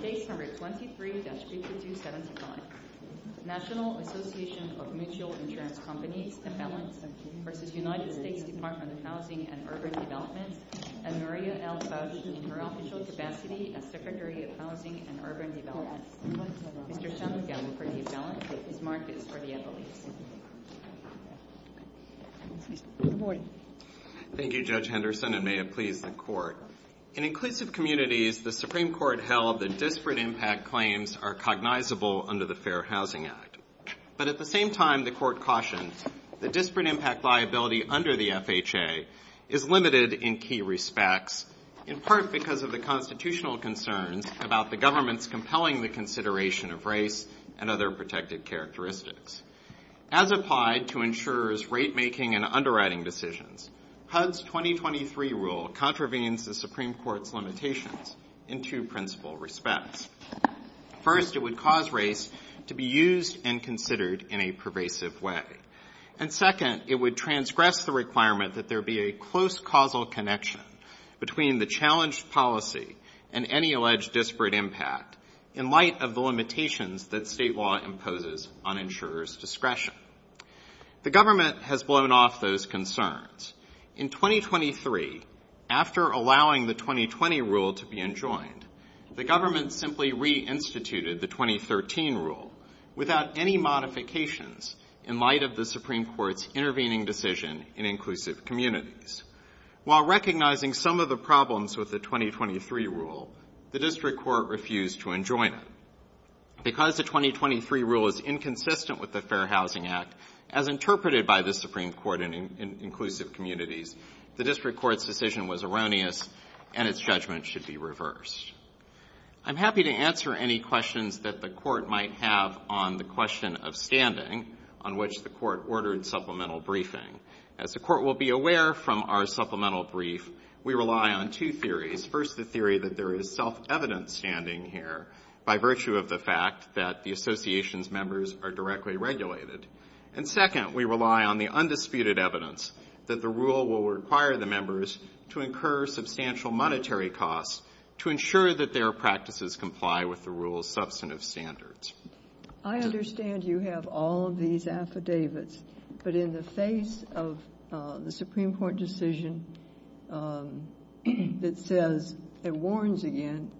23-5275 National Association of Mutual Insurance Companies v. United States Department of Housing and Urban Development and Maria L. Fauci in her official capacity as Secretary of Housing and Urban Development. Mr. Shanmugam for the balance. Please mark this for the employees. Good morning. Thank you Judge Henderson and may it please the Court. In inclusive communities, the Supreme Court held that disparate impact claims are cognizable under the Fair Housing Act. But at the same time, the Court cautioned that disparate impact liability under the FHA is limited in key respects, in part because of the constitutional concerns about the government's compelling consideration of race and other protected characteristics. As applied to insurers' rate-making and underwriting decisions, HUD's 2023 rule contravenes the Supreme Court's limitations in two principal respects. First, it would cause race to be used and considered in a pervasive way. And second, it would transgress the requirement that there be a close causal connection between the challenged policy and any alleged disparate impact in light of the limitations that state law imposes on insurers' discretion. The government has blown off those concerns. In 2023, after allowing the 2020 rule to be enjoined, the government simply reinstituted the 2013 rule without any modifications in light of the Supreme Court's intervening decision in inclusive communities. While recognizing some of the problems with the 2023 rule, the District Court refused to enjoin it. Because the 2023 rule is inconsistent with the Fair Housing Act, as interpreted by the Supreme Court in inclusive communities, the District Court's decision was erroneous, and its judgment should be reversed. I'm happy to answer any questions that the Court might have on the question of standing on which the Court ordered supplemental briefing. As the Court will be aware from our supplemental brief, we rely on two theories, first the theory that there is self-evident standing here by virtue of the fact that the Association's members are directly regulated. And second, we rely on the undisputed evidence that the rule will require the members to incur substantial monetary costs to ensure that their practices comply with the rule's substantive standards. I understand you have all of these affidavits, but in the face of the Supreme Court decision that says it warns again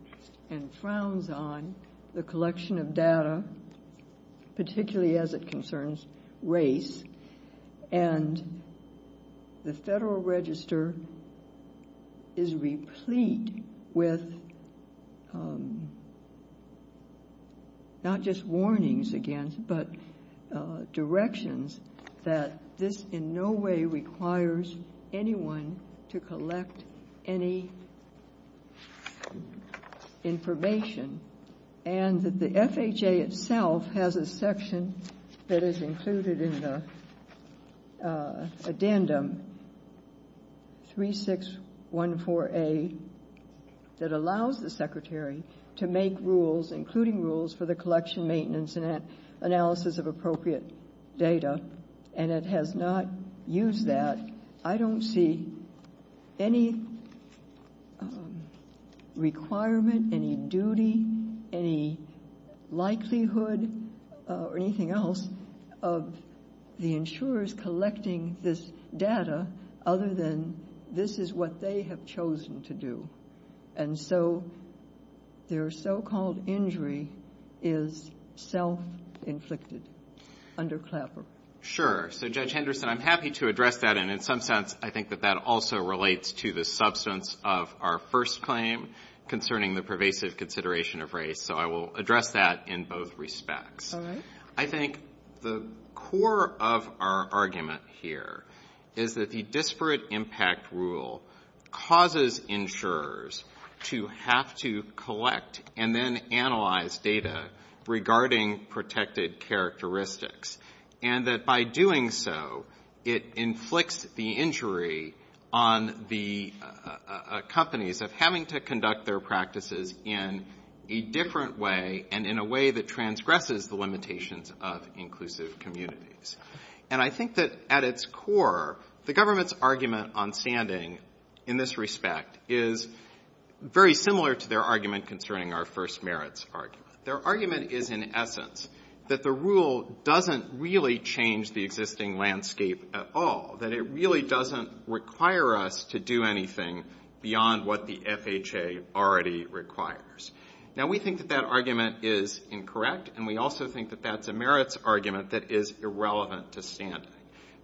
and frowns on the collection of data, particularly as it concerns race, and the Federal Register is replete with not just warnings again, but directions that this in no way requires anyone to collect any information, and that the FHA itself has a section that is included in the addendum 3614A that allows the Secretary to make rules, including rules for the collection, maintenance, and analysis of appropriate data. And it has not used that. I don't see any requirement, any duty, any likelihood of the Secretary's decision or anything else of the insurers collecting this data other than this is what they have chosen to do. And so their so-called injury is self-inflicted under Clapper. Sure. So, Judge Henderson, I'm happy to address that, and in some sense, I think that that also relates to the substance of our first claim concerning the pervasive consideration of race. So I will address that in both respects. I think the core of our argument here is that the disparate impact rule causes insurers to have to collect and then analyze data regarding protected characteristics. And that by doing so, it inflicts the injury on the companies of having to conduct their own analysis of the limitations of inclusive communities. And I think that at its core, the government's argument on sanding, in this respect, is very similar to their argument concerning our first merits argument. Their argument is, in essence, that the rule doesn't really change the existing landscape at all, that it really doesn't require us to do anything beyond what the FHA already requires. Now, we think that that argument is incorrect, and we also think that that's a merits argument that is irrelevant to standing.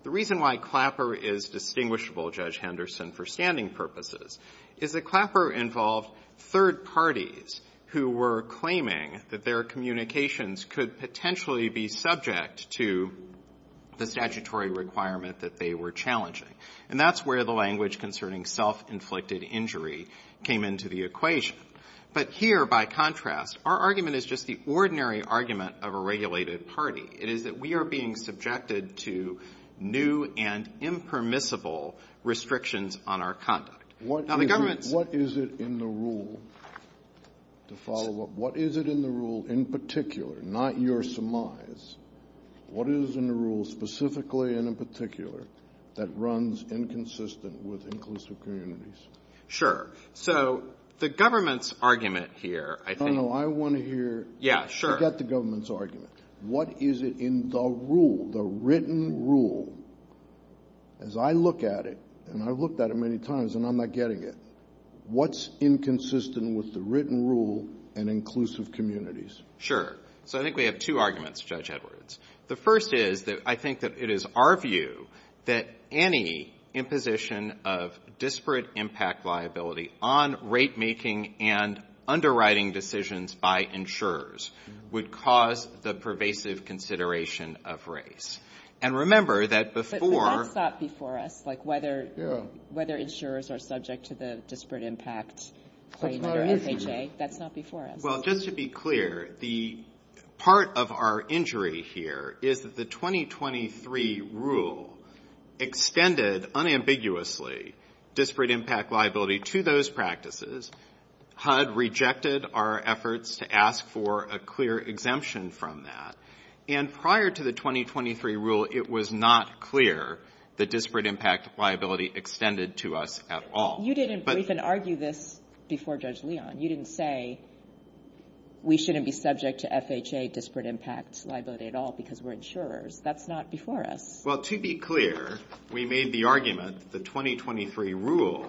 The reason why Clapper is distinguishable, Judge Henderson, for standing purposes is that Clapper involved third parties who were claiming that their communications could potentially be subject to the statutory requirement that they were challenging. And that's where the language concerning self-inflicted injury came into the equation. But here, by contrast, our argument is just the ordinary argument of a regulated party. It is that we are being subjected to new and impermissible restrictions on our conduct. Now, the government's... What is it in the rule, to follow up, what is it in the rule in particular, not your surmise, what is in the rule specifically and in particular that runs inconsistent with inclusive communities? Sure. So, the government's argument here, I think... No, no. I want to hear... Yeah, sure. Forget the government's argument. What is it in the rule, the written rule? As I look at it, and I've looked at it many times, and I'm not getting it, what's inconsistent with the written rule and inclusive communities? Sure. So, I think we have two arguments, Judge Edwards. The first is that I think that it is our view that any imposition of disparate impact liability on rate-making and underwriting decisions by insurers would cause the pervasive consideration of race. And remember that before... But that's not before us, like whether insurers are subject to the disparate impact... That's not before us. That's not before us. That's not before us. To be clear, the part of our injury here is that the 2023 rule extended unambiguously disparate impact liability to those practices. HUD rejected our efforts to ask for a clear exemption from that. And prior to the 2023 rule, it was not clear that disparate impact liability extended to us at all. You didn't briefly argue this before Judge Leon. You didn't say we shouldn't be subject to FHA disparate impact liability at all because we're insurers. That's not before us. Well, to be clear, we made the argument that the 2023 rule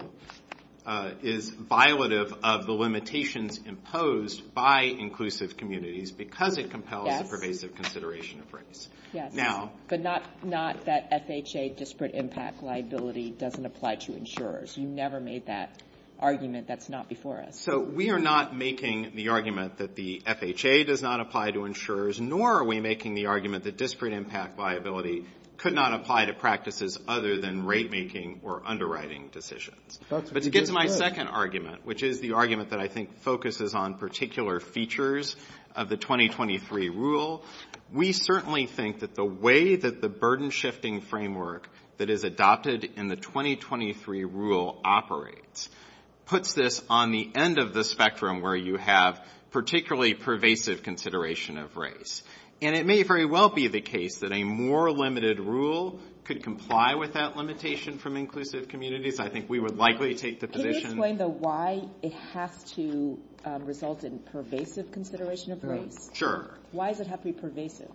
is violative of the limitations imposed by inclusive communities because it compels the pervasive consideration of race. Yes. But not that FHA disparate impact liability doesn't apply to insurers. You never made that argument. That's not before us. So we are not making the argument that the FHA does not apply to insurers, nor are we making the argument that disparate impact liability could not apply to practices other than rate-making or underwriting decisions. But to get to my second argument, which is the argument that I think focuses on particular features of the 2023 rule, we certainly think that the way that the burden-shifting framework that is adopted in the 2023 rule operates puts this on the end of the spectrum where you have particularly pervasive consideration of race. And it may very well be the case that a more limited rule could comply with that limitation from inclusive communities. I think we would likely take the position... Can you explain though why it has to result in pervasive consideration of race? Sure. Why does it have to be pervasive?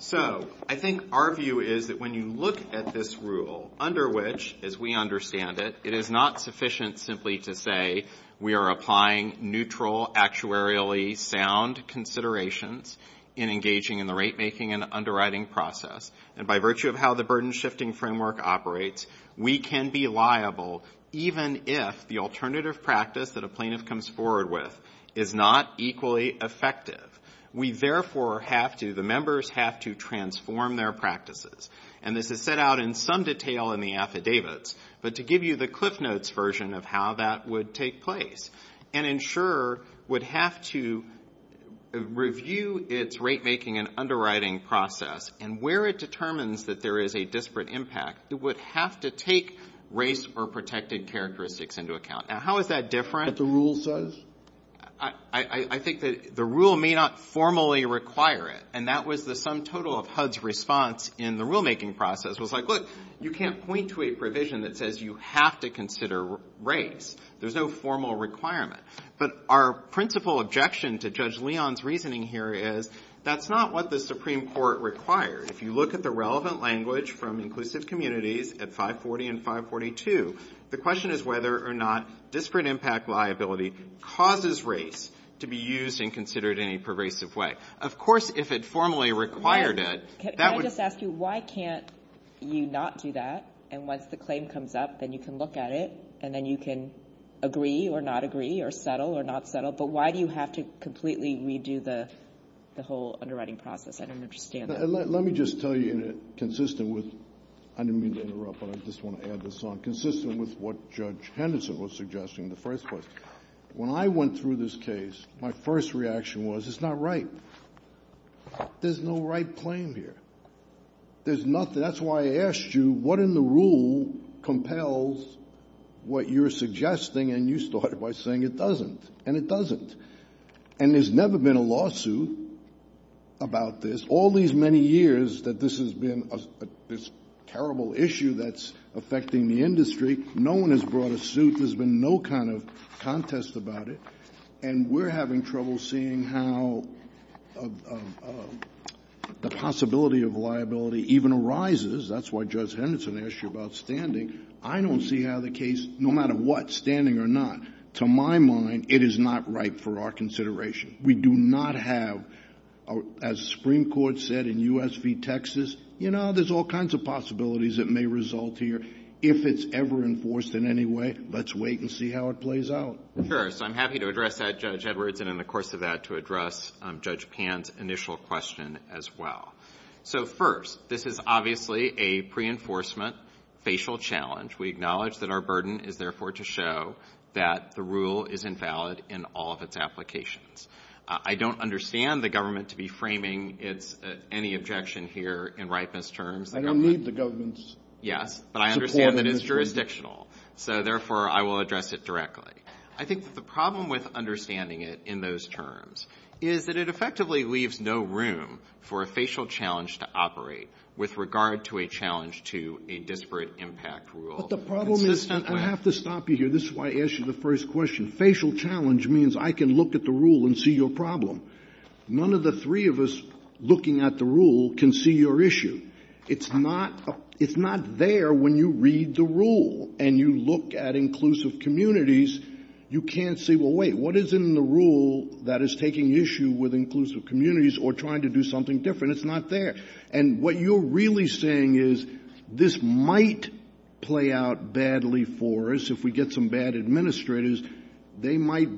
So I think our view is that when you look at this rule, under which, as we understand it, it is not sufficient simply to say we are applying neutral, actuarially sound considerations in engaging in the rate-making and underwriting process. And by virtue of how the burden-shifting framework operates, we can be liable even if the alternative practice that a plaintiff comes forward with is not equally effective. We therefore have to, the members have to transform their practices. And this is set out in some detail in the affidavits. But to give you the Cliff Notes version of how that would take place, an insurer would have to review its rate-making and underwriting process and where it determines that there is a disparate impact, it would have to take race or protected characteristics into account. Now, how is that different? That the rule says? I think that the rule may not formally require it. And that was the sum total of HUD's response in the rule-making process. It was like, look, you can't point to a provision that says you have to consider race. There's no formal requirement. But our principal objection to Judge Leon's reasoning here is that's not what the Supreme Court required. If you look at the relevant language from inclusive communities at 540 and 542, the question is whether or not disparate impact liability causes race to be used and considered in a pervasive way. Of course, if it formally required it, that would be. Can I just ask you, why can't you not do that? And once the claim comes up, then you can look at it and then you can agree or not agree or settle or not settle, but why do you have to completely redo the whole underwriting process? I don't understand that. Let me just tell you, consistent with, I didn't mean to interrupt, but I just want to add this on, consistent with what Judge Henderson was suggesting in the first place. When I went through this case, my first reaction was, it's not right. There's no right claim here. There's nothing. That's why I asked you, what in the rule compels what you're suggesting? And you started by saying it doesn't, and it doesn't. And there's never been a lawsuit about this, all these many years that this has been this terrible issue that's affecting the industry. No one has brought a suit. There's been no kind of contest about it. And we're having trouble seeing how the possibility of liability even arises. That's why Judge Henderson asked you about standing. I don't see how the case, no matter what, standing or not, to my mind, it is not right for our consideration. We do not have, as the Supreme Court said in US v. Texas, you know, there's all kinds of possibilities that may result here. If it's ever enforced in any way, let's wait and see how it plays out. Sure. So I'm happy to address that, Judge Edwards, and in the course of that, to address Judge Pan's initial question as well. So first, this is obviously a pre-enforcement facial challenge. We acknowledge that our burden is therefore to show that the rule is invalid in all of its applications. I don't understand the government to be framing its any objection here in ripeness terms. I don't need the government's support. Yes. But I understand that it's jurisdictional. So therefore, I will address it directly. I think that the problem with understanding it in those terms is that it effectively leaves no room for a facial challenge to operate with regard to a challenge to a disparate impact rule. But the problem is — I have to stop you here. This is why I asked you the first question. Facial challenge means I can look at the rule and see your problem. None of the three of us looking at the rule can see your issue. It's not — it's not there when you read the rule and you look at inclusive communities. You can't say, well, wait, what is in the rule that is taking issue with inclusive communities or trying to do something different? It's not there. And what you're really saying is this might play out badly for us if we get some bad administrators, they might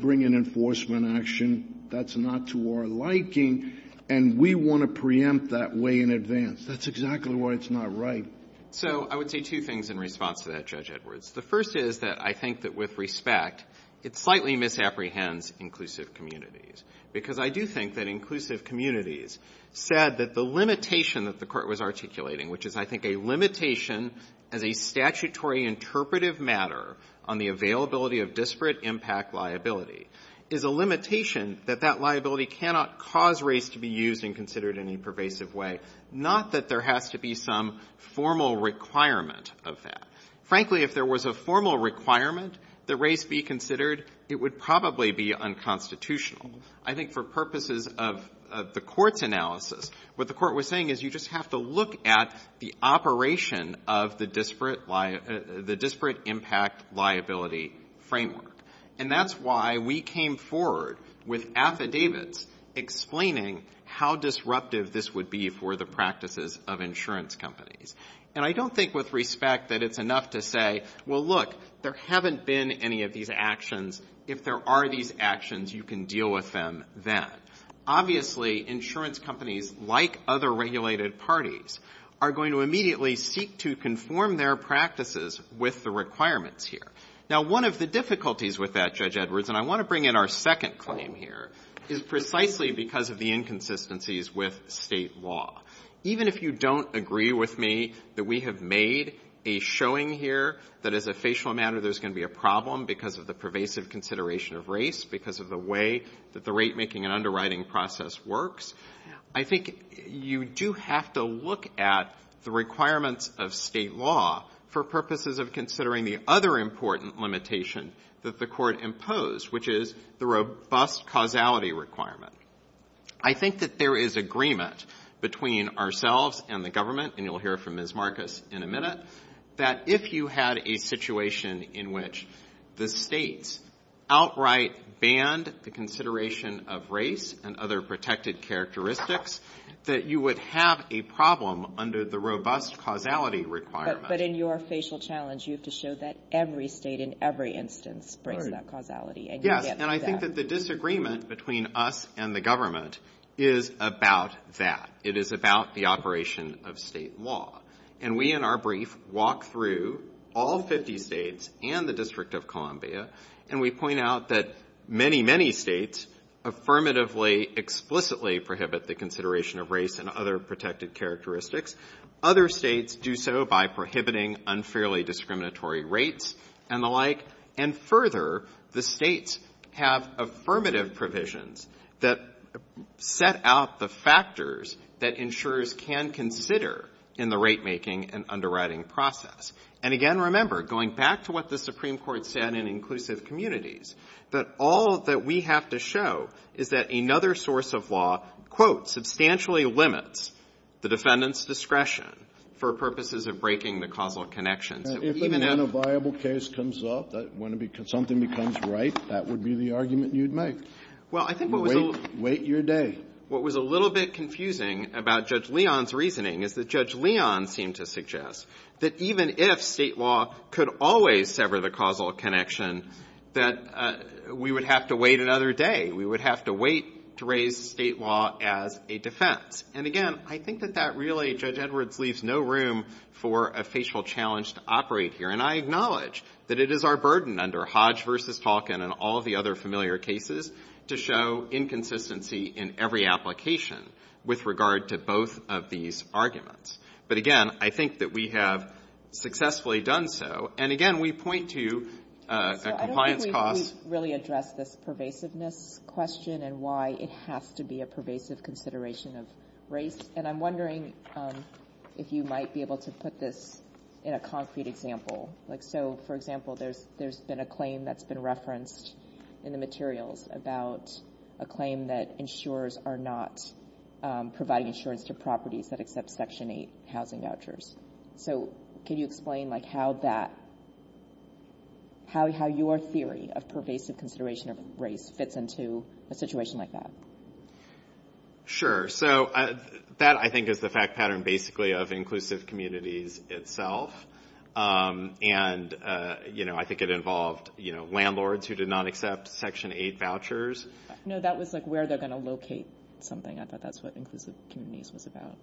bring an enforcement action that's not to our liking, and we want to preempt that way in advance. That's exactly why it's not right. So I would say two things in response to that, Judge Edwards. The first is that I think that, with respect, it slightly misapprehends inclusive communities. Because I do think that inclusive communities said that the limitation that the Court was articulating, which is, I think, a limitation as a statutory interpretive matter on the availability of disparate impact liability, is a limitation that that liability cannot cause race to be used and considered in a pervasive way, not that there has to be some formal requirement of that. Frankly, if there was a formal requirement that race be considered, it would probably be unconstitutional. I think for purposes of the Court's analysis, what the Court was saying is you just have to look at the operation of the disparate impact liability framework. And that's why we came forward with affidavits explaining how disruptive this would be for the practices of insurance companies. And I don't think, with respect, that it's enough to say, well, look, there haven't been any of these actions. If there are these actions, you can deal with them then. Obviously, insurance companies, like other regulated parties, are going to immediately seek to conform their practices with the requirements here. Now, one of the difficulties with that, Judge Edwards, and I want to bring in our second claim here, is precisely because of the inconsistencies with State law. Even if you don't agree with me that we have made a showing here that, as a facial matter, there's going to be a problem because of the pervasive consideration of race, because of the way that the rate-making and underwriting process works, I think you do have to look at the requirements of State law for purposes of considering the other important limitation that the Court imposed, which is the robust causality requirement. I think that there is agreement between ourselves and the government, and you'll hear from Ms. Marcus in a minute, that if you had a situation in which the States outright banned the consideration of race and other protected characteristics, that you would have a problem under the robust causality requirement. But in your facial challenge, you have to show that every State in every instance brings that causality. Yes, and I think that the disagreement between us and the government is about that. It is about the operation of State law. And we in our brief walk through all 50 States and the District of Columbia, and we point out that many, many States affirmatively, explicitly prohibit the consideration of race and other protected characteristics. Other States do so by prohibiting unfairly discriminatory rates and the like. And further, the States have affirmative provisions that set out the factors that insurers can consider in the ratemaking and underwriting process. And again, remember, going back to what the Supreme Court said in inclusive communities, that all that we have to show is that another source of law, quote, substantially limits the defendant's discretion for purposes of breaking the causal connections. If and when a viable case comes up, when something becomes right, that would be the argument you'd make. Wait your day. What was a little bit confusing about Judge Leon's reasoning is that Judge Leon seemed to suggest that even if State law could always sever the causal connection, that we would have to wait another day. We would have to wait to raise State law as a defense. And again, I think that that really, Judge Edwards, leaves no room for a facial challenge to operate here. And I acknowledge that it is our burden under Hodge v. Tolkien and all the other familiar cases to show inconsistency in every application with regard to both of these arguments. But again, I think that we have successfully done so. And again, we point to compliance costs. So I don't think we've really addressed this pervasiveness question and why it has to be a pervasive consideration of race. And I'm wondering if you might be able to put this in a concrete example. So for example, there's been a claim that's been referenced in the materials about a claim that insurers are not providing insurance to properties that accept Section 8 housing vouchers. So can you explain how your theory of pervasive consideration of race fits into a situation like that? Sure. So that, I think, is the fact pattern basically of inclusive communities itself. And I think it involved landlords who did not accept Section 8 vouchers. No, that was like where they're going to locate something. I thought that's what inclusive communities was about.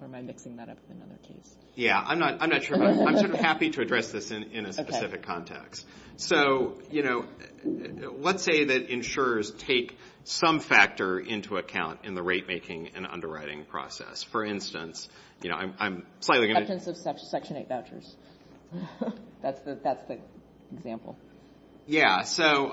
Or am I mixing that up with another case? Yeah. I'm not sure. I'm sort of happy to address this in a specific context. So, you know, let's say that insurers take some factor into account in the rate making and underwriting process. For instance, you know, I'm slightly going to... Acceptance of Section 8 vouchers. That's the example. Yeah. So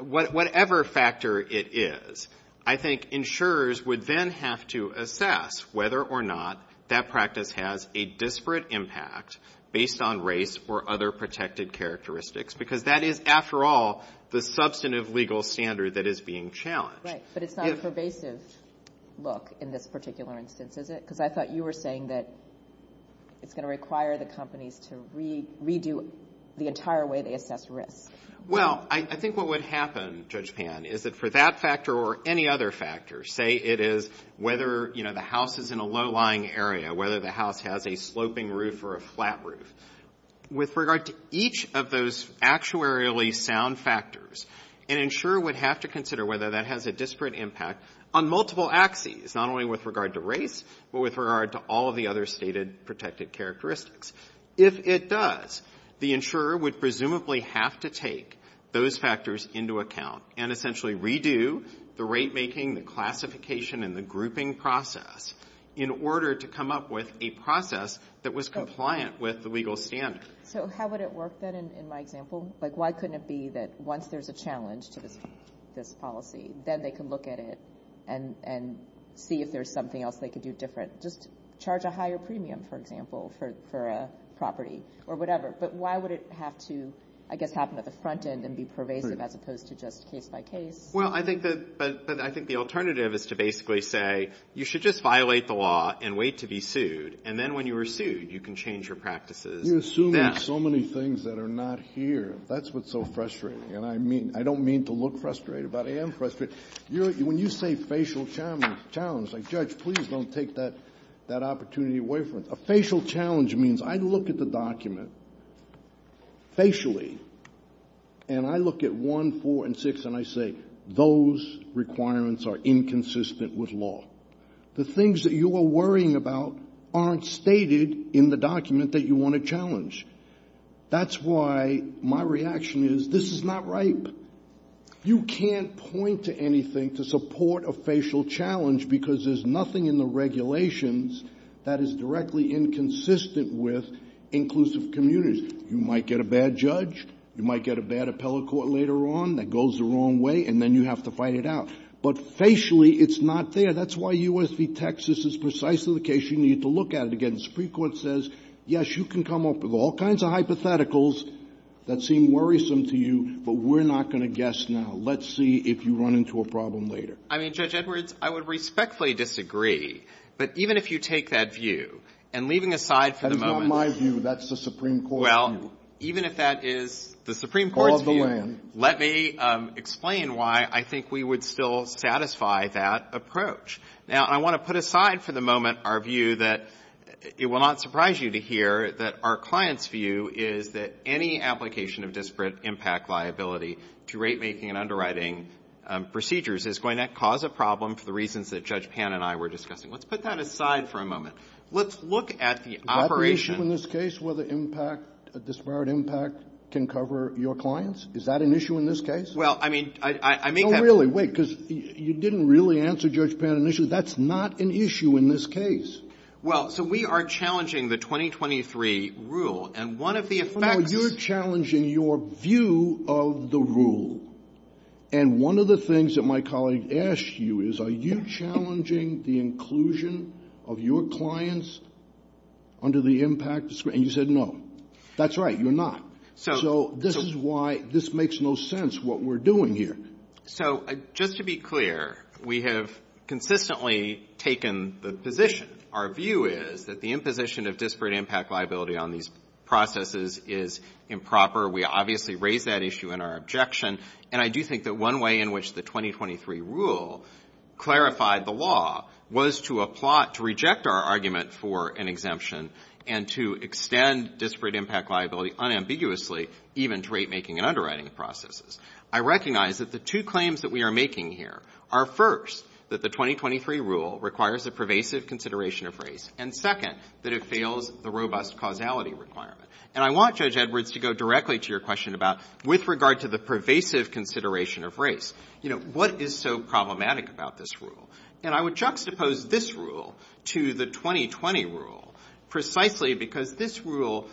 whatever factor it is, I think insurers would then have to assess whether or not that practice has a disparate impact based on race or other protected characteristics. Because that is, after all, the substantive legal standard that is being challenged. But it's not a pervasive look in this particular instance, is it? Because I thought you were saying that it's going to require the companies to redo the entire way they assess risk. Well, I think what would happen, Judge Pan, is that for that factor or any other factor, say it is whether, you know, the house is in a low-lying area, whether the house has a sloping roof or a flat roof, with regard to each of those actuarially sound factors, an insurer would have to consider whether that has a disparate impact on multiple axes, not only with regard to race, but with regard to all of the other stated protected characteristics. If it does, the insurer would presumably have to take those factors into account and essentially redo the rate-making, the classification, and the grouping process in order to come up with a process that was compliant with the legal standard. So how would it work, then, in my example? Like, why couldn't it be that once there's a challenge to this policy, then they can look at it and see if there's something else they could do different? Just charge a higher premium, for example, for a property or whatever. But why would it have to, I guess, happen at the front end and be pervasive as opposed to just case-by-case? Well, I think the alternative is to basically say, you should just violate the law and wait to be sued, and then when you are sued, you can change your practices. You're assuming so many things that are not here. That's what's so frustrating. And I mean, I don't mean to look frustrated, but I am frustrated. When you say facial challenge, like, Judge, please don't take that opportunity away from me. A facial challenge means I look at the document facially, and I look at 1, 4, and 6, and I say, those requirements are inconsistent with law. The things that you are worrying about aren't stated in the document that you want to challenge. That's why my reaction is, this is not right. You can't point to anything to support a facial challenge because there's nothing in the regulations that is directly inconsistent with inclusive communities. You might get a bad judge. You might get a bad appellate court later on that goes the wrong way, and then you have to fight it out. But facially, it's not there. That's why U.S. v. Texas is precisely the case you need to look at it again. The Supreme Court says, yes, you can come up with all kinds of hypotheticals that seem worrisome to you, but we're not going to guess now. Let's see if you run into a problem later. I mean, Judge Edwards, I would respectfully disagree, but even if you take that view, and leaving aside for the moment. That is not my view. That's the Supreme Court's view. Well, even if that is the Supreme Court's view, let me explain why I think we would still satisfy that approach. Now, I want to put aside for the moment our view that it will not surprise you to hear that our client's view is that any application of disparate impact liability to ratemaking and underwriting procedures is going to cause a problem for the reasons that Judge Pan and I were discussing. Let's put that aside for a moment. Let's look at the operation. Is that the issue in this case, whether impact, disparate impact, can cover your clients? Is that an issue in this case? Well, I mean, I make that... No, really. Wait, because you didn't really answer Judge Pan initially. That's not an issue in this case. Well, so we are challenging the 2023 rule, and one of the effects... Well, you're challenging your view of the rule, and one of the things that my colleague asked you is, are you challenging the inclusion of your clients under the impact discretion? And you said no. That's right. You're not. So this is why this makes no sense, what we're doing here. So just to be clear, we have consistently taken the position. Our view is that the imposition of disparate impact liability on these processes is improper. We obviously raised that issue in our objection, and I do think that one way in which the 2023 rule clarified the law was to reject our argument for an exemption and to extend disparate impact liability unambiguously, even to rate-making and underwriting processes. I recognize that the two claims that we are making here are, first, that the 2023 rule requires a pervasive consideration of race, and, second, that it fails the robust causality requirement. And I want Judge Edwards to go directly to your question about, with regard to the pervasive consideration of race, you know, what is so problematic about this rule? And I would juxtapose this rule to the 2020 rule precisely because this rule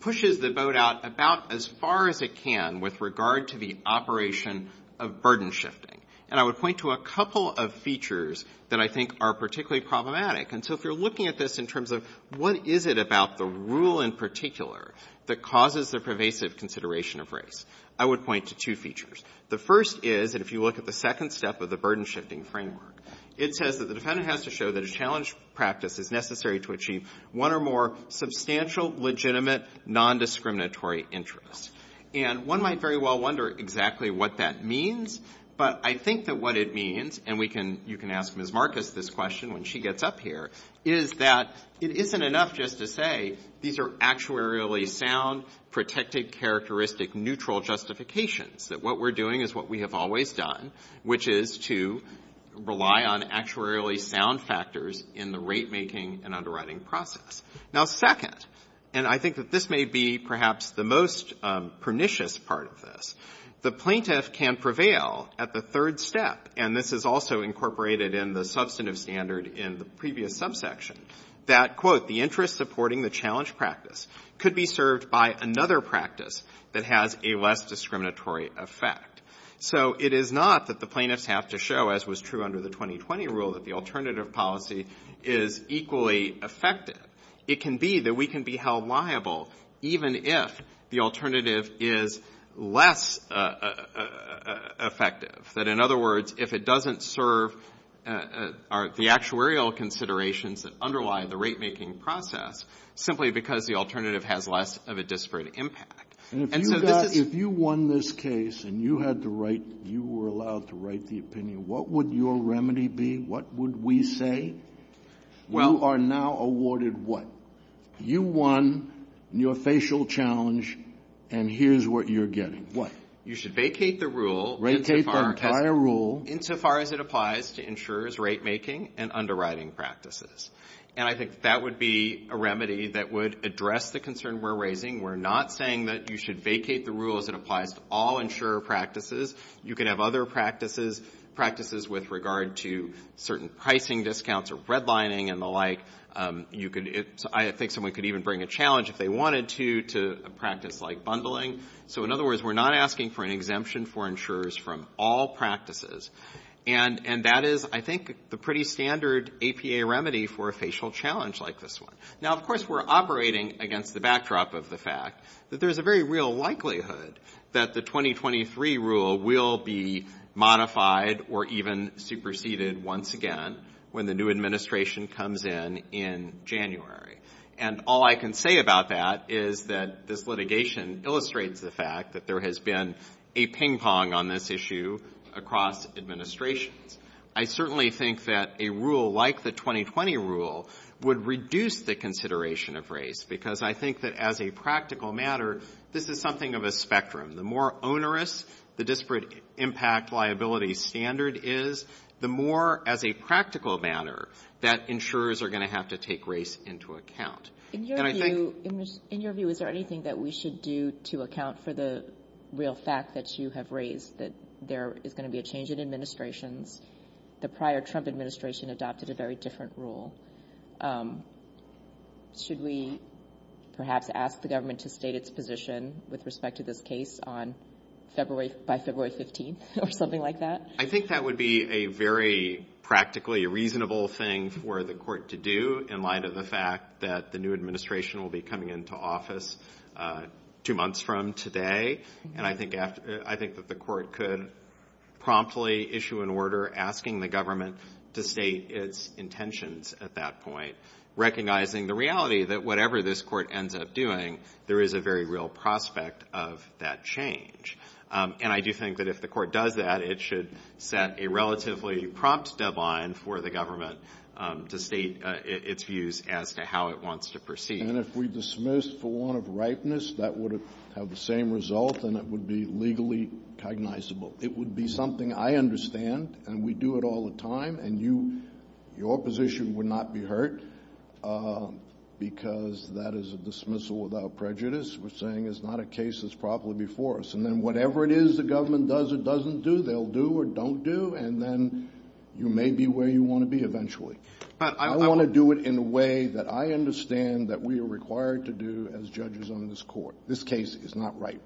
pushes the boat out about as far as it can with regard to the operation of burden shifting. And I would point to a couple of features that I think are particularly problematic. And so if you're looking at this in terms of what is it about the rule in particular that causes the pervasive consideration of race, I would point to two features. The first is, and if you look at the second step of the burden shifting framework, it says that the defendant has to show that a challenge practice is necessary to achieve one or more substantial, legitimate, nondiscriminatory interests. And one might very well wonder exactly what that means, but I think that what it means, and we can, you can ask Ms. Marcus this question when she gets up here, is that it isn't enough just to say these are actuarially sound, protected, characteristic, neutral justifications, that what we're doing is what we have always done, which is to rely on actuarially sound factors in the rate making and underwriting process. Now, second, and I think that this may be perhaps the most pernicious part of this, the plaintiff can prevail at the third step, and this is also incorporated in the substantive standard in the previous subsection, that, quote, the interest supporting the challenge practice could be served by another practice that has a less discriminatory effect. So it is not that the plaintiffs have to show, as was true under the 2020 rule, that the alternative policy is equally effective. It can be that we can be held liable, even if the alternative is less effective. That, in other words, if it doesn't serve the actuarial considerations that underlie the rate making process, simply because the alternative has less of a disparate impact. And so this is... And if you won this case and you had the right, you were allowed to write the opinion, what would your remedy be? What would we say? You are now awarded what? You won your facial challenge, and here's what you're getting. What? You should vacate the rule. Vacate the entire rule. Insofar as it applies to insurers' rate making and underwriting practices. And I think that would be a remedy that would address the concern we're raising. We're not saying that you should vacate the rule as it applies to all insurer practices. You can have other practices with regard to certain pricing discounts or redlining and the like. I think someone could even bring a challenge, if they wanted to, to a practice like bundling. So in other words, we're not asking for an exemption for insurers from all practices. And that is, I think, the pretty standard APA remedy for a facial challenge like this one. Now, of course, we're operating against the backdrop of the fact that there's a very real that the 2023 rule will be modified or even superseded once again when the new administration comes in in January. And all I can say about that is that this litigation illustrates the fact that there has been a ping pong on this issue across administrations. I certainly think that a rule like the 2020 rule would reduce the consideration of race. Because I think that as a practical matter, this is something of a spectrum. The more onerous the disparate impact liability standard is, the more as a practical matter that insurers are going to have to take race into account. In your view, is there anything that we should do to account for the real fact that you have raised that there is going to be a change in administrations? The prior Trump administration adopted a very different rule. Should we perhaps ask the government to state its position with respect to this case on February, by February 15th or something like that? I think that would be a very practically reasonable thing for the court to do in light of the fact that the new administration will be coming into office two months from today. And I think that the court could promptly issue an order asking the government to state its intentions at that point. Recognizing the reality that whatever this court ends up doing, there is a very real prospect of that change. And I do think that if the court does that, it should set a relatively prompt deadline for the government to state its views as to how it wants to proceed. And if we dismiss for one of ripeness, that would have the same result and it would be legally cognizable. It would be something I understand and we do it all the time. And your position would not be hurt because that is a dismissal without prejudice. We're saying it's not a case that's properly before us. And then whatever it is the government does or doesn't do, they'll do or don't do. And then you may be where you want to be eventually. But I want to do it in a way that I understand that we are required to do as judges on this court. This case is not ripe.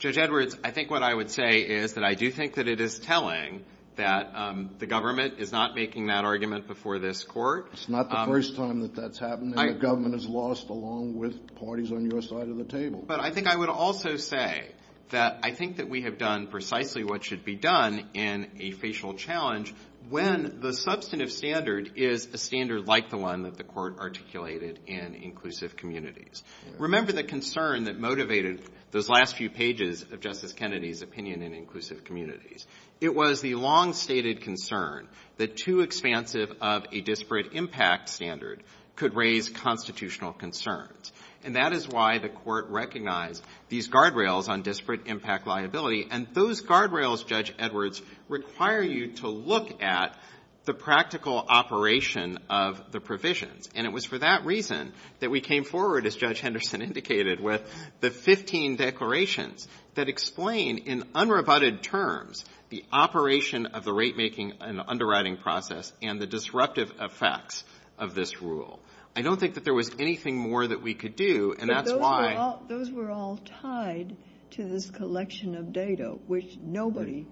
Judge Edwards, I think what I would say is that I do think that it is telling that the government is not making that argument before this court. It's not the first time that that's happened and the government has lost along with parties on your side of the table. But I think I would also say that I think that we have done precisely what should be done in a facial challenge when the substantive standard is a standard like the one that the court articulated in inclusive communities. Remember the concern that motivated those last few pages of Justice Kennedy's opinion in inclusive communities. It was the long-stated concern that too expansive of a disparate impact standard could raise constitutional concerns. And that is why the court recognized these guardrails on disparate impact liability. And those guardrails, Judge Edwards, require you to look at the practical operation of the provisions. And it was for that reason that we came forward, as Judge Henderson indicated, with the 15 declarations that explain in unrebutted terms the operation of the rate making and underwriting process and the disruptive effects of this rule. I don't think that there was anything more that we could do and that's why. But those were all tied to this collection of data, which nobody,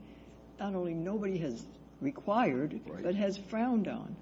not only nobody has required, but has frowned on.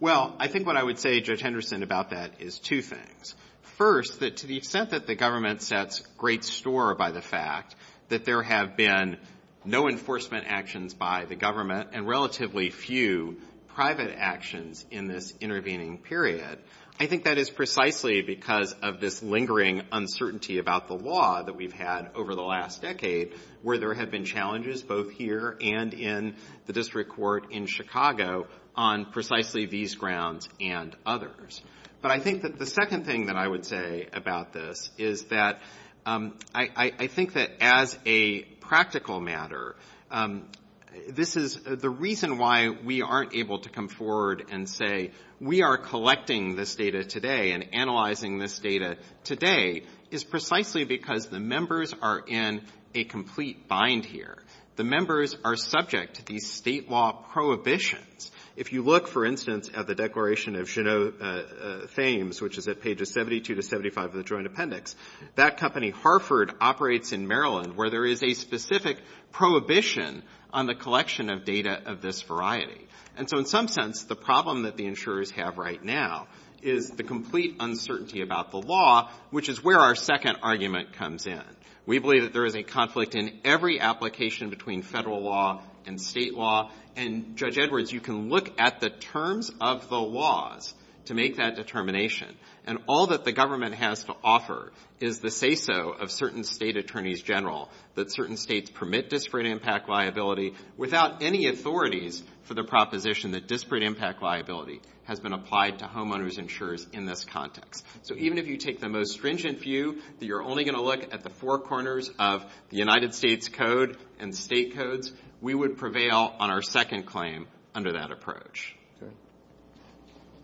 Well, I think what I would say, Judge Henderson, about that is two things. First, that to the extent that the government sets great store by the fact that there have been no enforcement actions by the government and relatively few private actions in this intervening period, I think that is precisely because of this lingering uncertainty about the law that we've had over the last decade where there have been challenges both here and in the district court in Chicago on precisely these grounds and others. But I think that the second thing that I would say about this is that I think that as a practical matter, the reason why we aren't able to come forward and say, we are collecting this data today and analyzing this data today is precisely because the members are in a complete bind here. The members are subject to these state law prohibitions. If you look, for instance, at the declaration of Jeannot Thames, which is at pages 72 to 75 of the Joint Appendix, that company, Harford, operates in Maryland where there is a specific prohibition on the collection of data of this variety. And so in some sense, the problem that the insurers have right now is the complete uncertainty about the law, which is where our second argument comes in. We believe that there is a conflict in every application between federal law and state law. And Judge Edwards, you can look at the terms of the laws to make that determination. And all that the government has to offer is the say-so of certain state attorneys general that certain states permit disparate impact liability without any authorities for the proposition that disparate impact liability has been applied to homeowners insurers in this context. So even if you take the most stringent view that you're only going to look at the four corners of the United States Code and state codes, we would prevail on our second claim under that approach.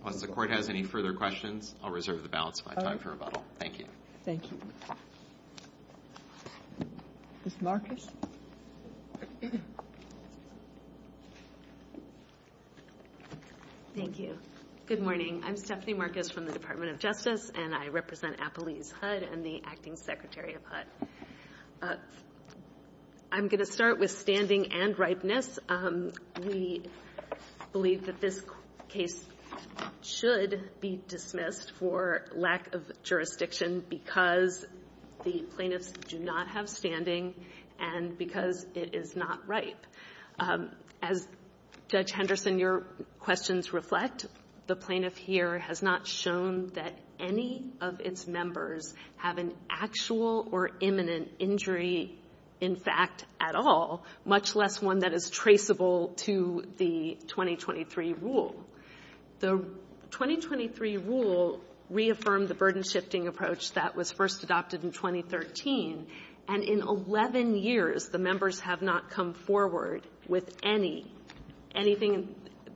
Unless the Court has any further questions, I'll reserve the balance of my time for rebuttal. Thank you. Thank you. Ms. Marcus. Thank you. Good morning. I'm Stephanie Marcus from the Department of Justice, and I represent Appalease HUD and the Acting Secretary of HUD. I'm going to start with standing and ripeness. We believe that this case should be dismissed for lack of jurisdiction because the plaintiffs do not have standing and because it is not ripe. As Judge Henderson, your questions reflect, the plaintiff here has not shown that any of its members have an actual or imminent injury, in fact, at all, much less one that is traceable to the 2023 rule. The 2023 rule reaffirmed the burden-shifting approach that was first adopted in 2013, and in 11 years, the members have not come forward with anything.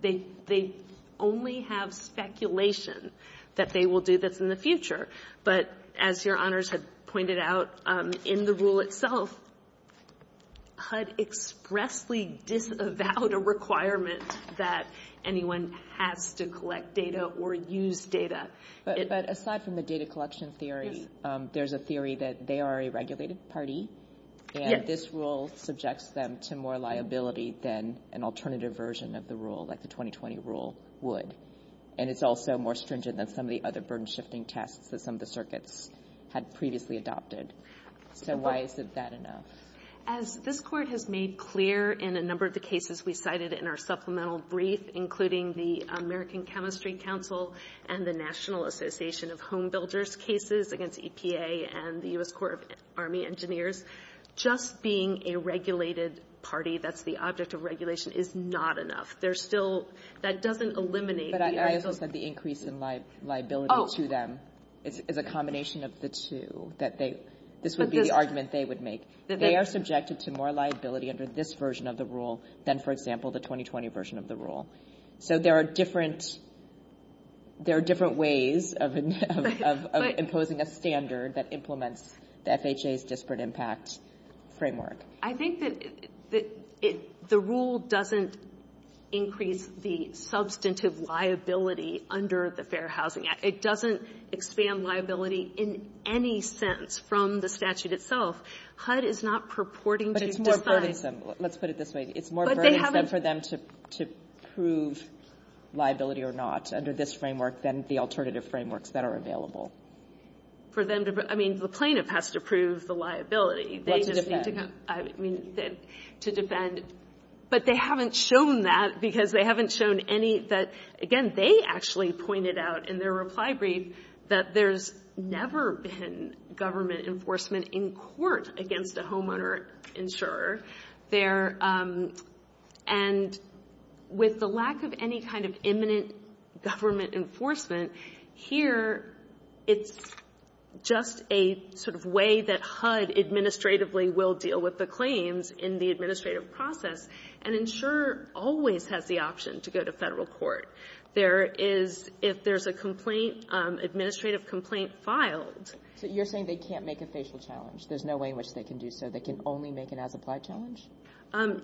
They only have speculation that they will do this in the future. But as your honors have pointed out in the rule itself, HUD expressly disavowed a requirement that anyone has to collect data or use data. But aside from the data collection theory, there's a theory that they are a regulated party, and this rule subjects them to more liability than an alternative version of the rule, like the 2020 rule would. And it's also more stringent than some of the other burden-shifting tests that some of the circuits had previously adopted. So why is it that enough? As this Court has made clear in a number of the cases we cited in our supplemental brief, including the American Chemistry Council and the National Association of Home Builders cases against EPA and the U.S. Corps of Army Engineers, just being a regulated party that's the object of regulation is not enough. There's still... That doesn't eliminate... But I also said the increase in liability to them is a combination of the two, that this would be the argument they would make. They are subjected to more liability under this version of the rule than, for example, the 2020 version of the rule. So there are different ways of imposing a standard that implements the FHA's disparate impact framework. I think that the rule doesn't increase the substantive liability under the Fair Housing Act. It doesn't expand liability in any sense from the statute itself. HUD is not purporting to... But it's more burdensome. Let's put it this way. It's more burdensome for them to prove liability or not under this framework than the alternative frameworks that are available. For them to... I mean, the plaintiff has to prove the liability. They just need to... I mean, to defend. But they haven't shown that because they haven't shown any that... Again, they actually pointed out in their reply brief that there's never been government enforcement in court against a homeowner insurer there. And with the lack of any kind of imminent government enforcement, here, it's just a sort of way that HUD administratively will deal with the claims in the administrative process. And insurer always has the option to go to federal court. There is... If there's a complaint, administrative complaint filed... So you're saying they can't make a facial challenge. There's no way in which they can do so. They can only make an as-applied challenge? Um,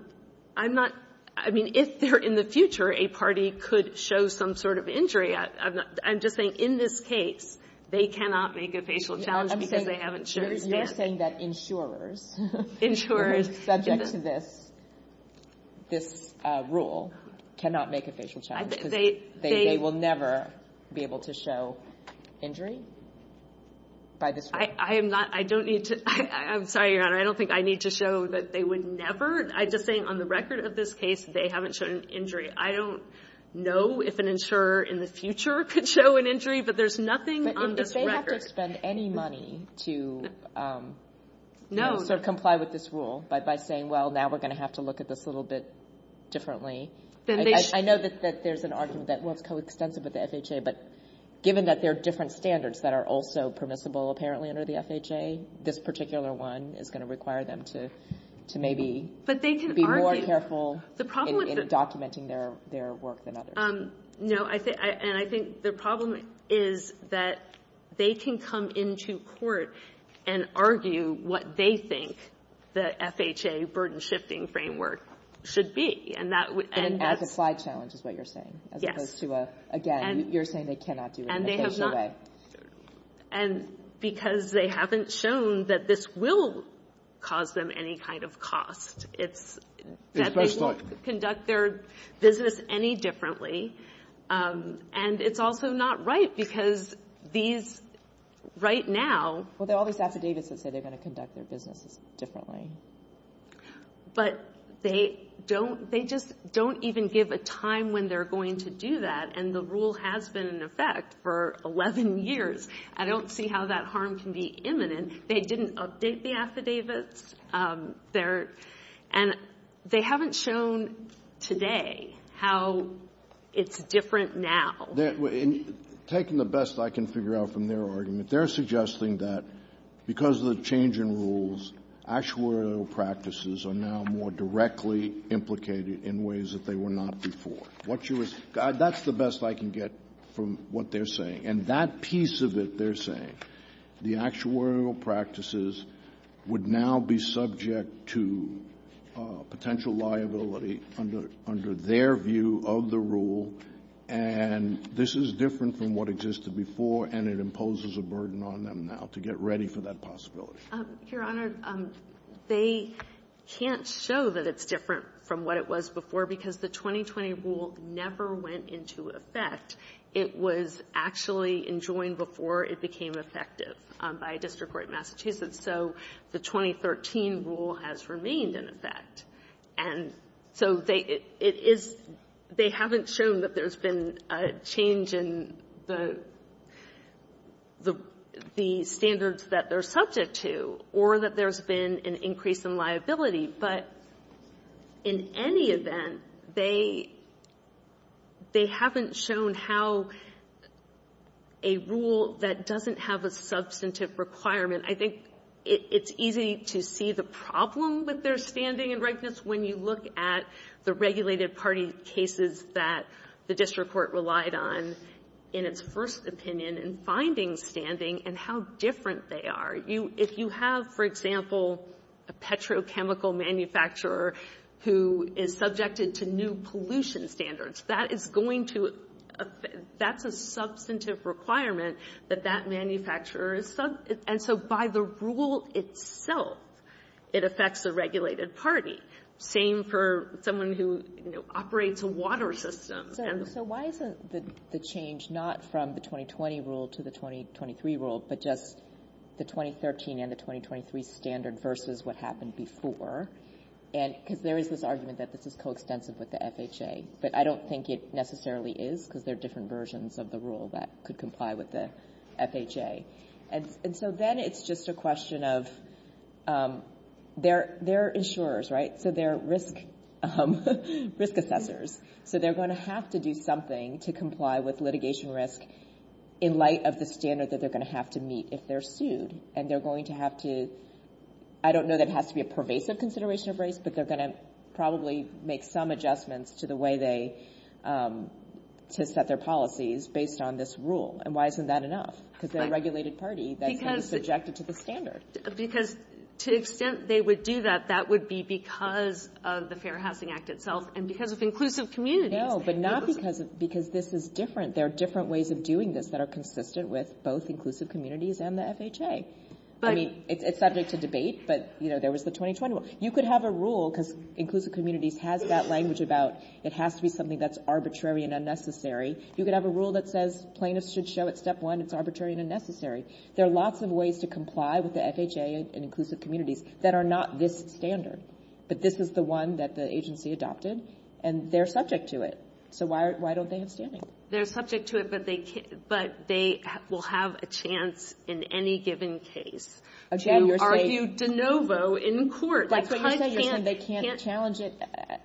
I'm not... I mean, if they're in the future, a party could show some sort of injury. I'm just saying in this case, they cannot make a facial challenge because they haven't shown it. You're saying that insurers... ...subject to this rule cannot make a facial challenge because they will never be able to show injury by this rule? I am not... I don't need to... I'm sorry, Your Honor. I don't think I need to show that they would never... I'm just saying on the record of this case, they haven't shown an injury. I don't know if an insurer in the future could show an injury, but there's nothing on this record. But if they have to spend any money to... No. ...sort of comply with this rule by saying, well, now we're going to have to look at this a little bit differently, I know that there's an argument that, well, it's coextensive with the FHA, but given that there are different standards that are also permissible, apparently, under the FHA, this particular one is going to require them to maybe... But they can argue... ...be more careful in documenting their work than others. No. And I think the problem is that they can come into court and argue what they think the FHA burden-shifting framework should be. And that would... And add the slide challenge is what you're saying, as opposed to, again, you're saying they cannot do it in a facial way. And because they haven't shown that this will cause them any kind of cost. It's that they won't conduct their business any differently. And it's also not right because these right now... Well, there are all these affidavits that say they're going to conduct their businesses differently. But they don't... They just don't even give a time when they're going to do that. And the rule has been in effect for 11 years. I don't see how that harm can be imminent. They didn't update the affidavits. And they haven't shown today how it's different now. In taking the best I can figure out from their argument, they're suggesting that because of the change in rules, actuarial practices are now more directly implicated in ways that they were not before. That's the best I can get from what they're saying. And that piece of it they're saying, the actuarial practices would now be subject to potential liability under their view of the rule. And this is different from what existed before, and it imposes a burden on them now to get ready for that possibility. Your Honor, they can't show that it's different from what it was before because the 2020 rule never went into effect. It was actually enjoined before it became effective by a district court in Massachusetts. So the 2013 rule has remained in effect. And so they haven't shown that there's been a change in the standards that they're subject to or that there's been an increase in liability. But in any event, they haven't shown how a rule that doesn't have a substantive requirement, I think it's easy to see the problem with their standing and rightness when you look at the regulated party cases that the district court relied on in its first opinion and finding standing and how different they are. If you have, for example, a petrochemical manufacturer who is subjected to new pollution standards, that is going to, that's a substantive requirement that that manufacturer is subject. And so by the rule itself, it affects the regulated party. Same for someone who operates a water system. And so why isn't the change not from the 2020 rule to the 2023 rule, but just the 2013 and the 2023 standard versus what happened before? And because there is this argument that this is coextensive with the FHA, but I don't think it necessarily is because there are different versions of the rule that could comply with the FHA. And so then it's just a question of, they're insurers, right? So they're risk assessors. So they're going to have to do something to comply with litigation risk in light of the standard that they're going to have to meet if they're sued. And they're going to have to, I don't know that it has to be a pervasive consideration of race, but they're going to probably make some adjustments to the way they, to set their policies based on this rule. And why isn't that enough? Because they're a regulated party that's going to be subjected to the standard. Because to the extent they would do that, that would be because of the Fair Housing Act itself and because of inclusive communities. But not because this is different. There are different ways of doing this that are consistent with both inclusive communities and the FHA. I mean, it's subject to debate, but there was the 2020 one. You could have a rule, because inclusive communities has that language about, it has to be something that's arbitrary and unnecessary. You could have a rule that says, plaintiffs should show at step one, it's arbitrary and unnecessary. There are lots of ways to comply with the FHA and inclusive communities that are not this standard. But this is the one that the agency adopted and they're subject to it. So why don't they have standing? They're subject to it, but they will have a chance in any given case to argue de novo in court. That's what you're saying, they can't challenge it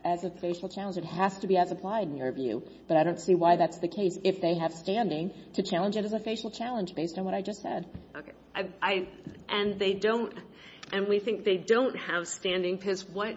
as a facial challenge. It has to be as applied in your view. But I don't see why that's the case, if they have standing to challenge it as a facial challenge based on what I just said. Okay. And they don't, and we think they don't have standing because what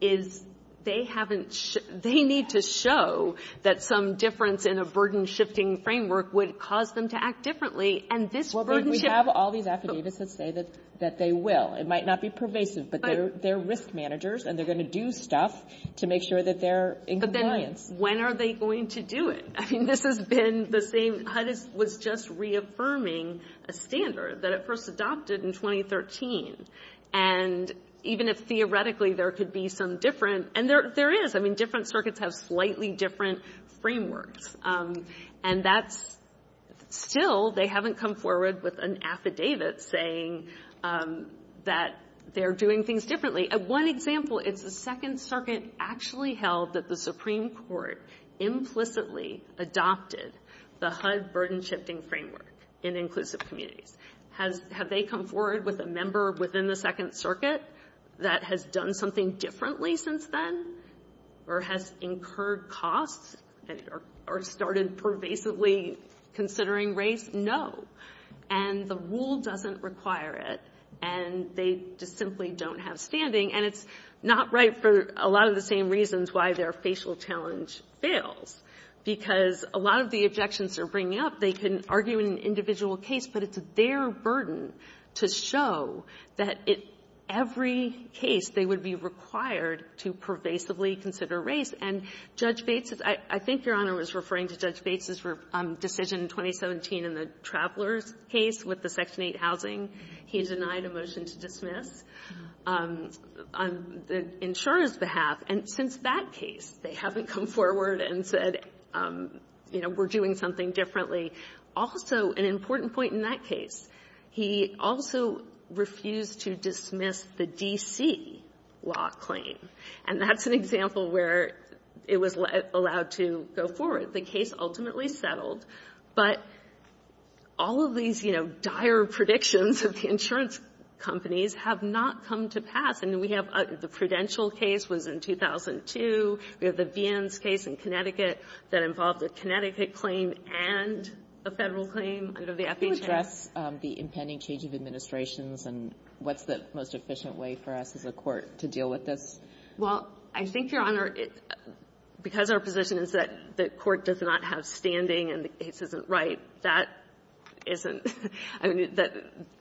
is they haven't, they need to show that some difference in a burden shifting framework would cause them to act differently. And this burden shift- We have all these affidavits that say that they will. It might not be pervasive, but they're risk managers and they're going to do stuff to make sure that they're in compliance. When are they going to do it? I mean, this has been the same, HUD was just reaffirming a standard that it first adopted in 2013. And even if theoretically, there could be some different, and there is, I mean, different circuits have slightly different frameworks. And that's still, they haven't come forward with an affidavit saying that they're doing things differently. At one example, it's the second circuit actually held that the Supreme Court implicitly adopted the HUD burden shifting framework in inclusive communities. Have they come forward with a member within the second circuit that has done something differently since then or has incurred costs or started pervasively considering race? No. And the rule doesn't require it. And they just simply don't have standing. And it's not right for a lot of the same reasons why their facial challenge fails, because a lot of the objections they're bringing up, they can argue in an individual case, but it's their burden to show that in every case, they would be required to pervasively consider race. And Judge Bates, I think Your Honor was referring to Judge Bates's decision in 2017 in the travelers case with the Section 8 housing. He denied a motion to dismiss on the insurer's behalf. And since that case, they haven't come forward and said, you know, we're doing something differently. Also, an important point in that case, he also refused to dismiss the D.C. law claim. And that's an example where it was allowed to go forward. The case ultimately settled. But all of these, you know, dire predictions of the insurance companies have not come to pass. And we have the Prudential case was in 2002. We have the Vien's case in Connecticut that involved a Connecticut claim and a Federal claim out of the FHA. Alito, can you address the impending change of administrations and what's the most efficient way for us as a court to deal with this? Well, I think, Your Honor, because our position is that the court does not have standing and the case isn't right, that isn't, I mean,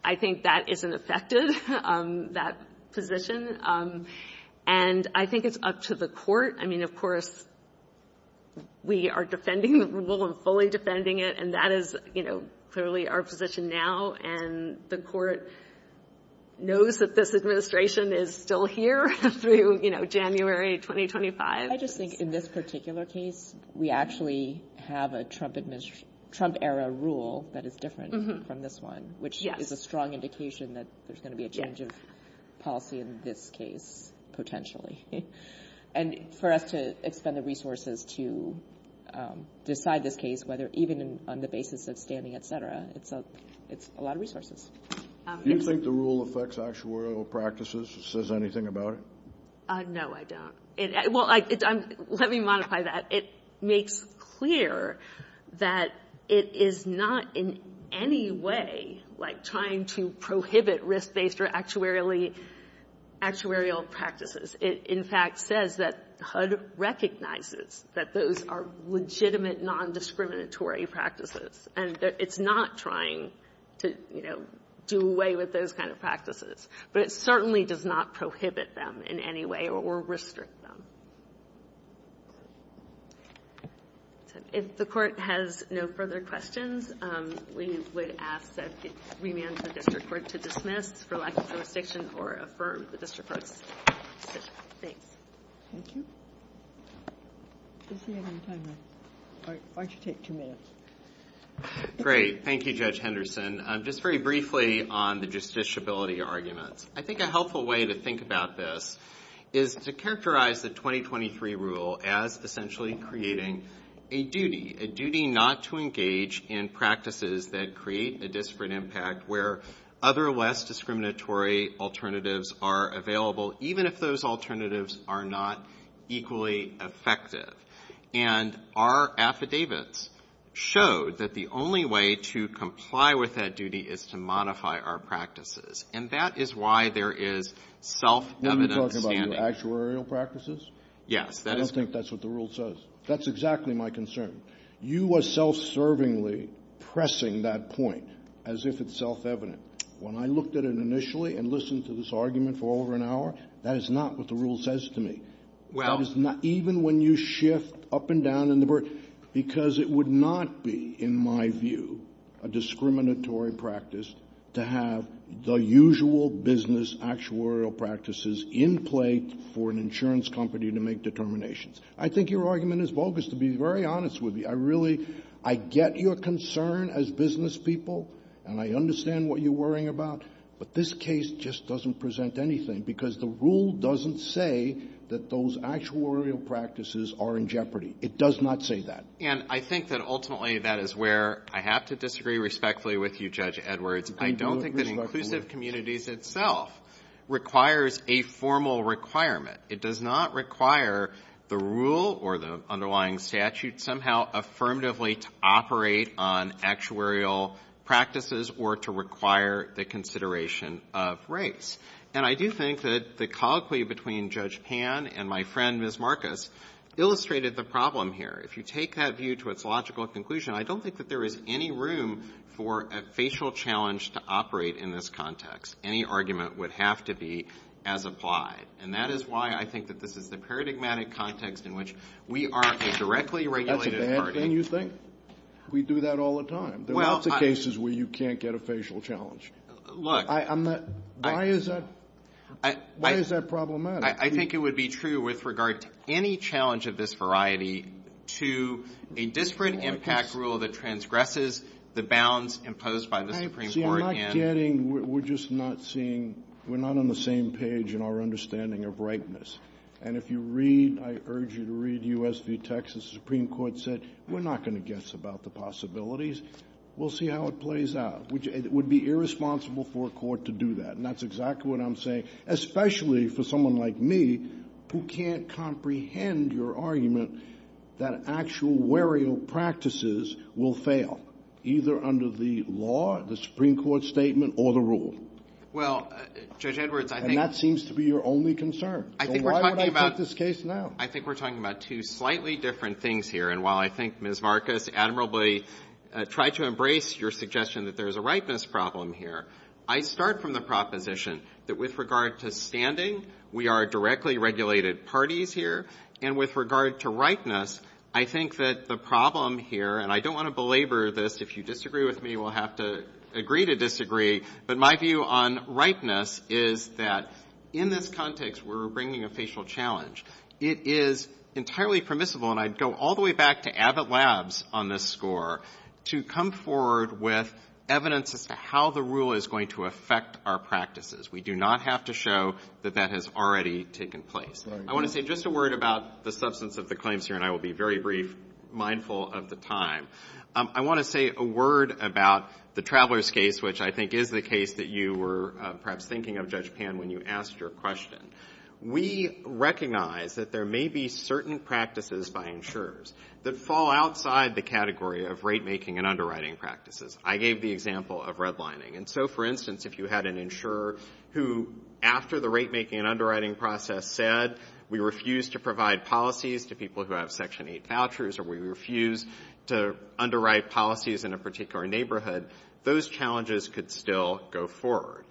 I think that isn't effective, that position. And I think it's up to the court. I mean, of course, we are defending the rule and fully defending it. And that is, you know, clearly our position now. And the court knows that this administration is still here through, you know, January 2025. I just think in this particular case, we actually have a Trump era rule that is different from this one, which is a strong indication that there's going to be a change of policy in this case, potentially. And for us to expend the resources to decide this case, whether even on the basis of standing, et cetera, it's a lot of resources. Do you think the rule affects actuarial practices? It says anything about it? No, I don't. Well, let me modify that. It makes clear that it is not in any way, like, trying to prohibit risk-based or actuarially actuarial practices. It, in fact, says that HUD recognizes that those are legitimate, nondiscriminatory practices. And it's not trying to, you know, do away with those kind of practices. But it certainly does not prohibit them in any way or restrict them. If the Court has no further questions, we would ask that it remand the district court to dismiss for lack of jurisdiction or affirm the district court's decision. Thank you. Is there any time left? Why don't you take two minutes? Great. Thank you, Judge Henderson. Just very briefly on the justiciability arguments. I think a helpful way to think about this is to characterize the 2023 rule as essentially creating a duty, a duty not to engage in practices that create a disparate impact where other less discriminatory alternatives are available, even if those alternatives are not equally effective. And our affidavits showed that the only way to comply with that duty is to modify our practices. And that is why there is self-evident standing. Are you talking about actuarial practices? Yes. I don't think that's what the rule says. That's exactly my concern. You are self-servingly pressing that point as if it's self-evident. When I looked at it initially and listened to this argument for over an hour, that is not what the rule says to me. Well — That is not — even when you shift up and down in the — because it would not be, in my view, a discriminatory practice to have the usual business actuarial practices in place for an insurance company to make determinations. I think your argument is bogus, to be very honest with you. I really — I get your concern as business people, and I understand what you're worrying about. But this case just doesn't present anything, because the rule doesn't say that those actuarial practices are in jeopardy. It does not say that. And I think that ultimately that is where I have to disagree respectfully with you, Judge Edwards. I don't think that inclusive communities itself requires a formal requirement. It does not require the rule or the underlying statute somehow affirmatively to operate on actuarial practices or to require the consideration of race. And I do think that the colloquy between Judge Pan and my friend, Ms. Marcus, illustrated the problem here. If you take that view to its logical conclusion, I don't think that there is any room for a facial challenge to operate in this context. Any argument would have to be as applied. And that is why I think that this is the paradigmatic context in which we are a directly regulated party — That's a bad thing, you think? We do that all the time. There are lots of cases where you can't get a facial challenge. Look — I'm not — why is that — why is that problematic? I think it would be true with regard to any challenge of this variety to a disparate impact rule that transgresses the bounds imposed by the Supreme Court and — See, I'm not getting — we're just not seeing — we're not on the same page in our understanding of rightness. And if you read — I urge you to read U.S. v. Texas. The Supreme Court said, we're not going to guess about the possibilities. We'll see how it plays out. Which — it would be irresponsible for a court to do that. And that's exactly what I'm saying, especially for someone like me who can't comprehend your argument that actual wereo practices will fail, either under the law, the Supreme Court statement, or the rule. Well, Judge Edwards, I think — And that seems to be your only concern. So why would I put this case now? I think we're talking about two slightly different things here. And while I think Ms. Marcus admirably tried to embrace your suggestion that there is a rightness problem here, I start from the proposition that with regard to standing, we are directly regulated parties here. And with regard to rightness, I think that the problem here — and I don't want to belabor this. If you disagree with me, we'll have to agree to disagree. But my view on rightness is that, in this context where we're bringing a facial challenge, it is entirely permissible — and I'd go all the way back to Abbott Labs on this score — to come forward with evidence as to how the rule is going to affect our practices. We do not have to show that that has already taken place. I want to say just a word about the substance of the claims here, and I will be very brief, mindful of the time. I want to say a word about the Travelers case, which I think is the case that you were perhaps thinking of, Judge Pan, when you asked your question. We recognize that there may be certain practices by insurers that fall outside the category of rate-making and underwriting practices. I gave the example of redlining. And so, for instance, if you had an insurer who, after the rate-making and underwriting process, said, we refuse to provide policies to people who have Section 8 vouchers, or we refuse to underwrite policies in a particular neighborhood, those challenges could still go forward.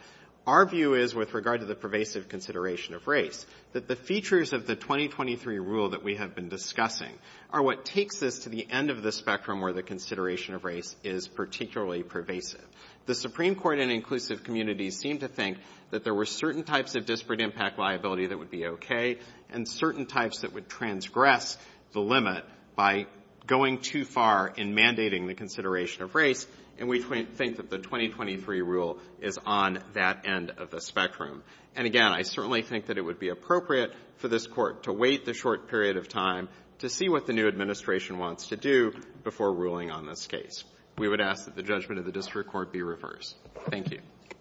Our view is, with regard to the pervasive consideration of race, that the features of the 2023 rule that we have been discussing are what takes us to the end of the spectrum where the consideration of race is particularly pervasive. The Supreme Court and inclusive communities seem to think that there were certain types of disparate impact liability that would be okay, and certain types that would transgress the limit by going too far in mandating the consideration of race. And we think that the 2023 rule is on that end of the spectrum. And, again, I certainly think that it would be appropriate for this Court to wait the short period of time to see what the new administration wants to do before ruling on this case. We would ask that the judgment of the district court be reversed. Thank you.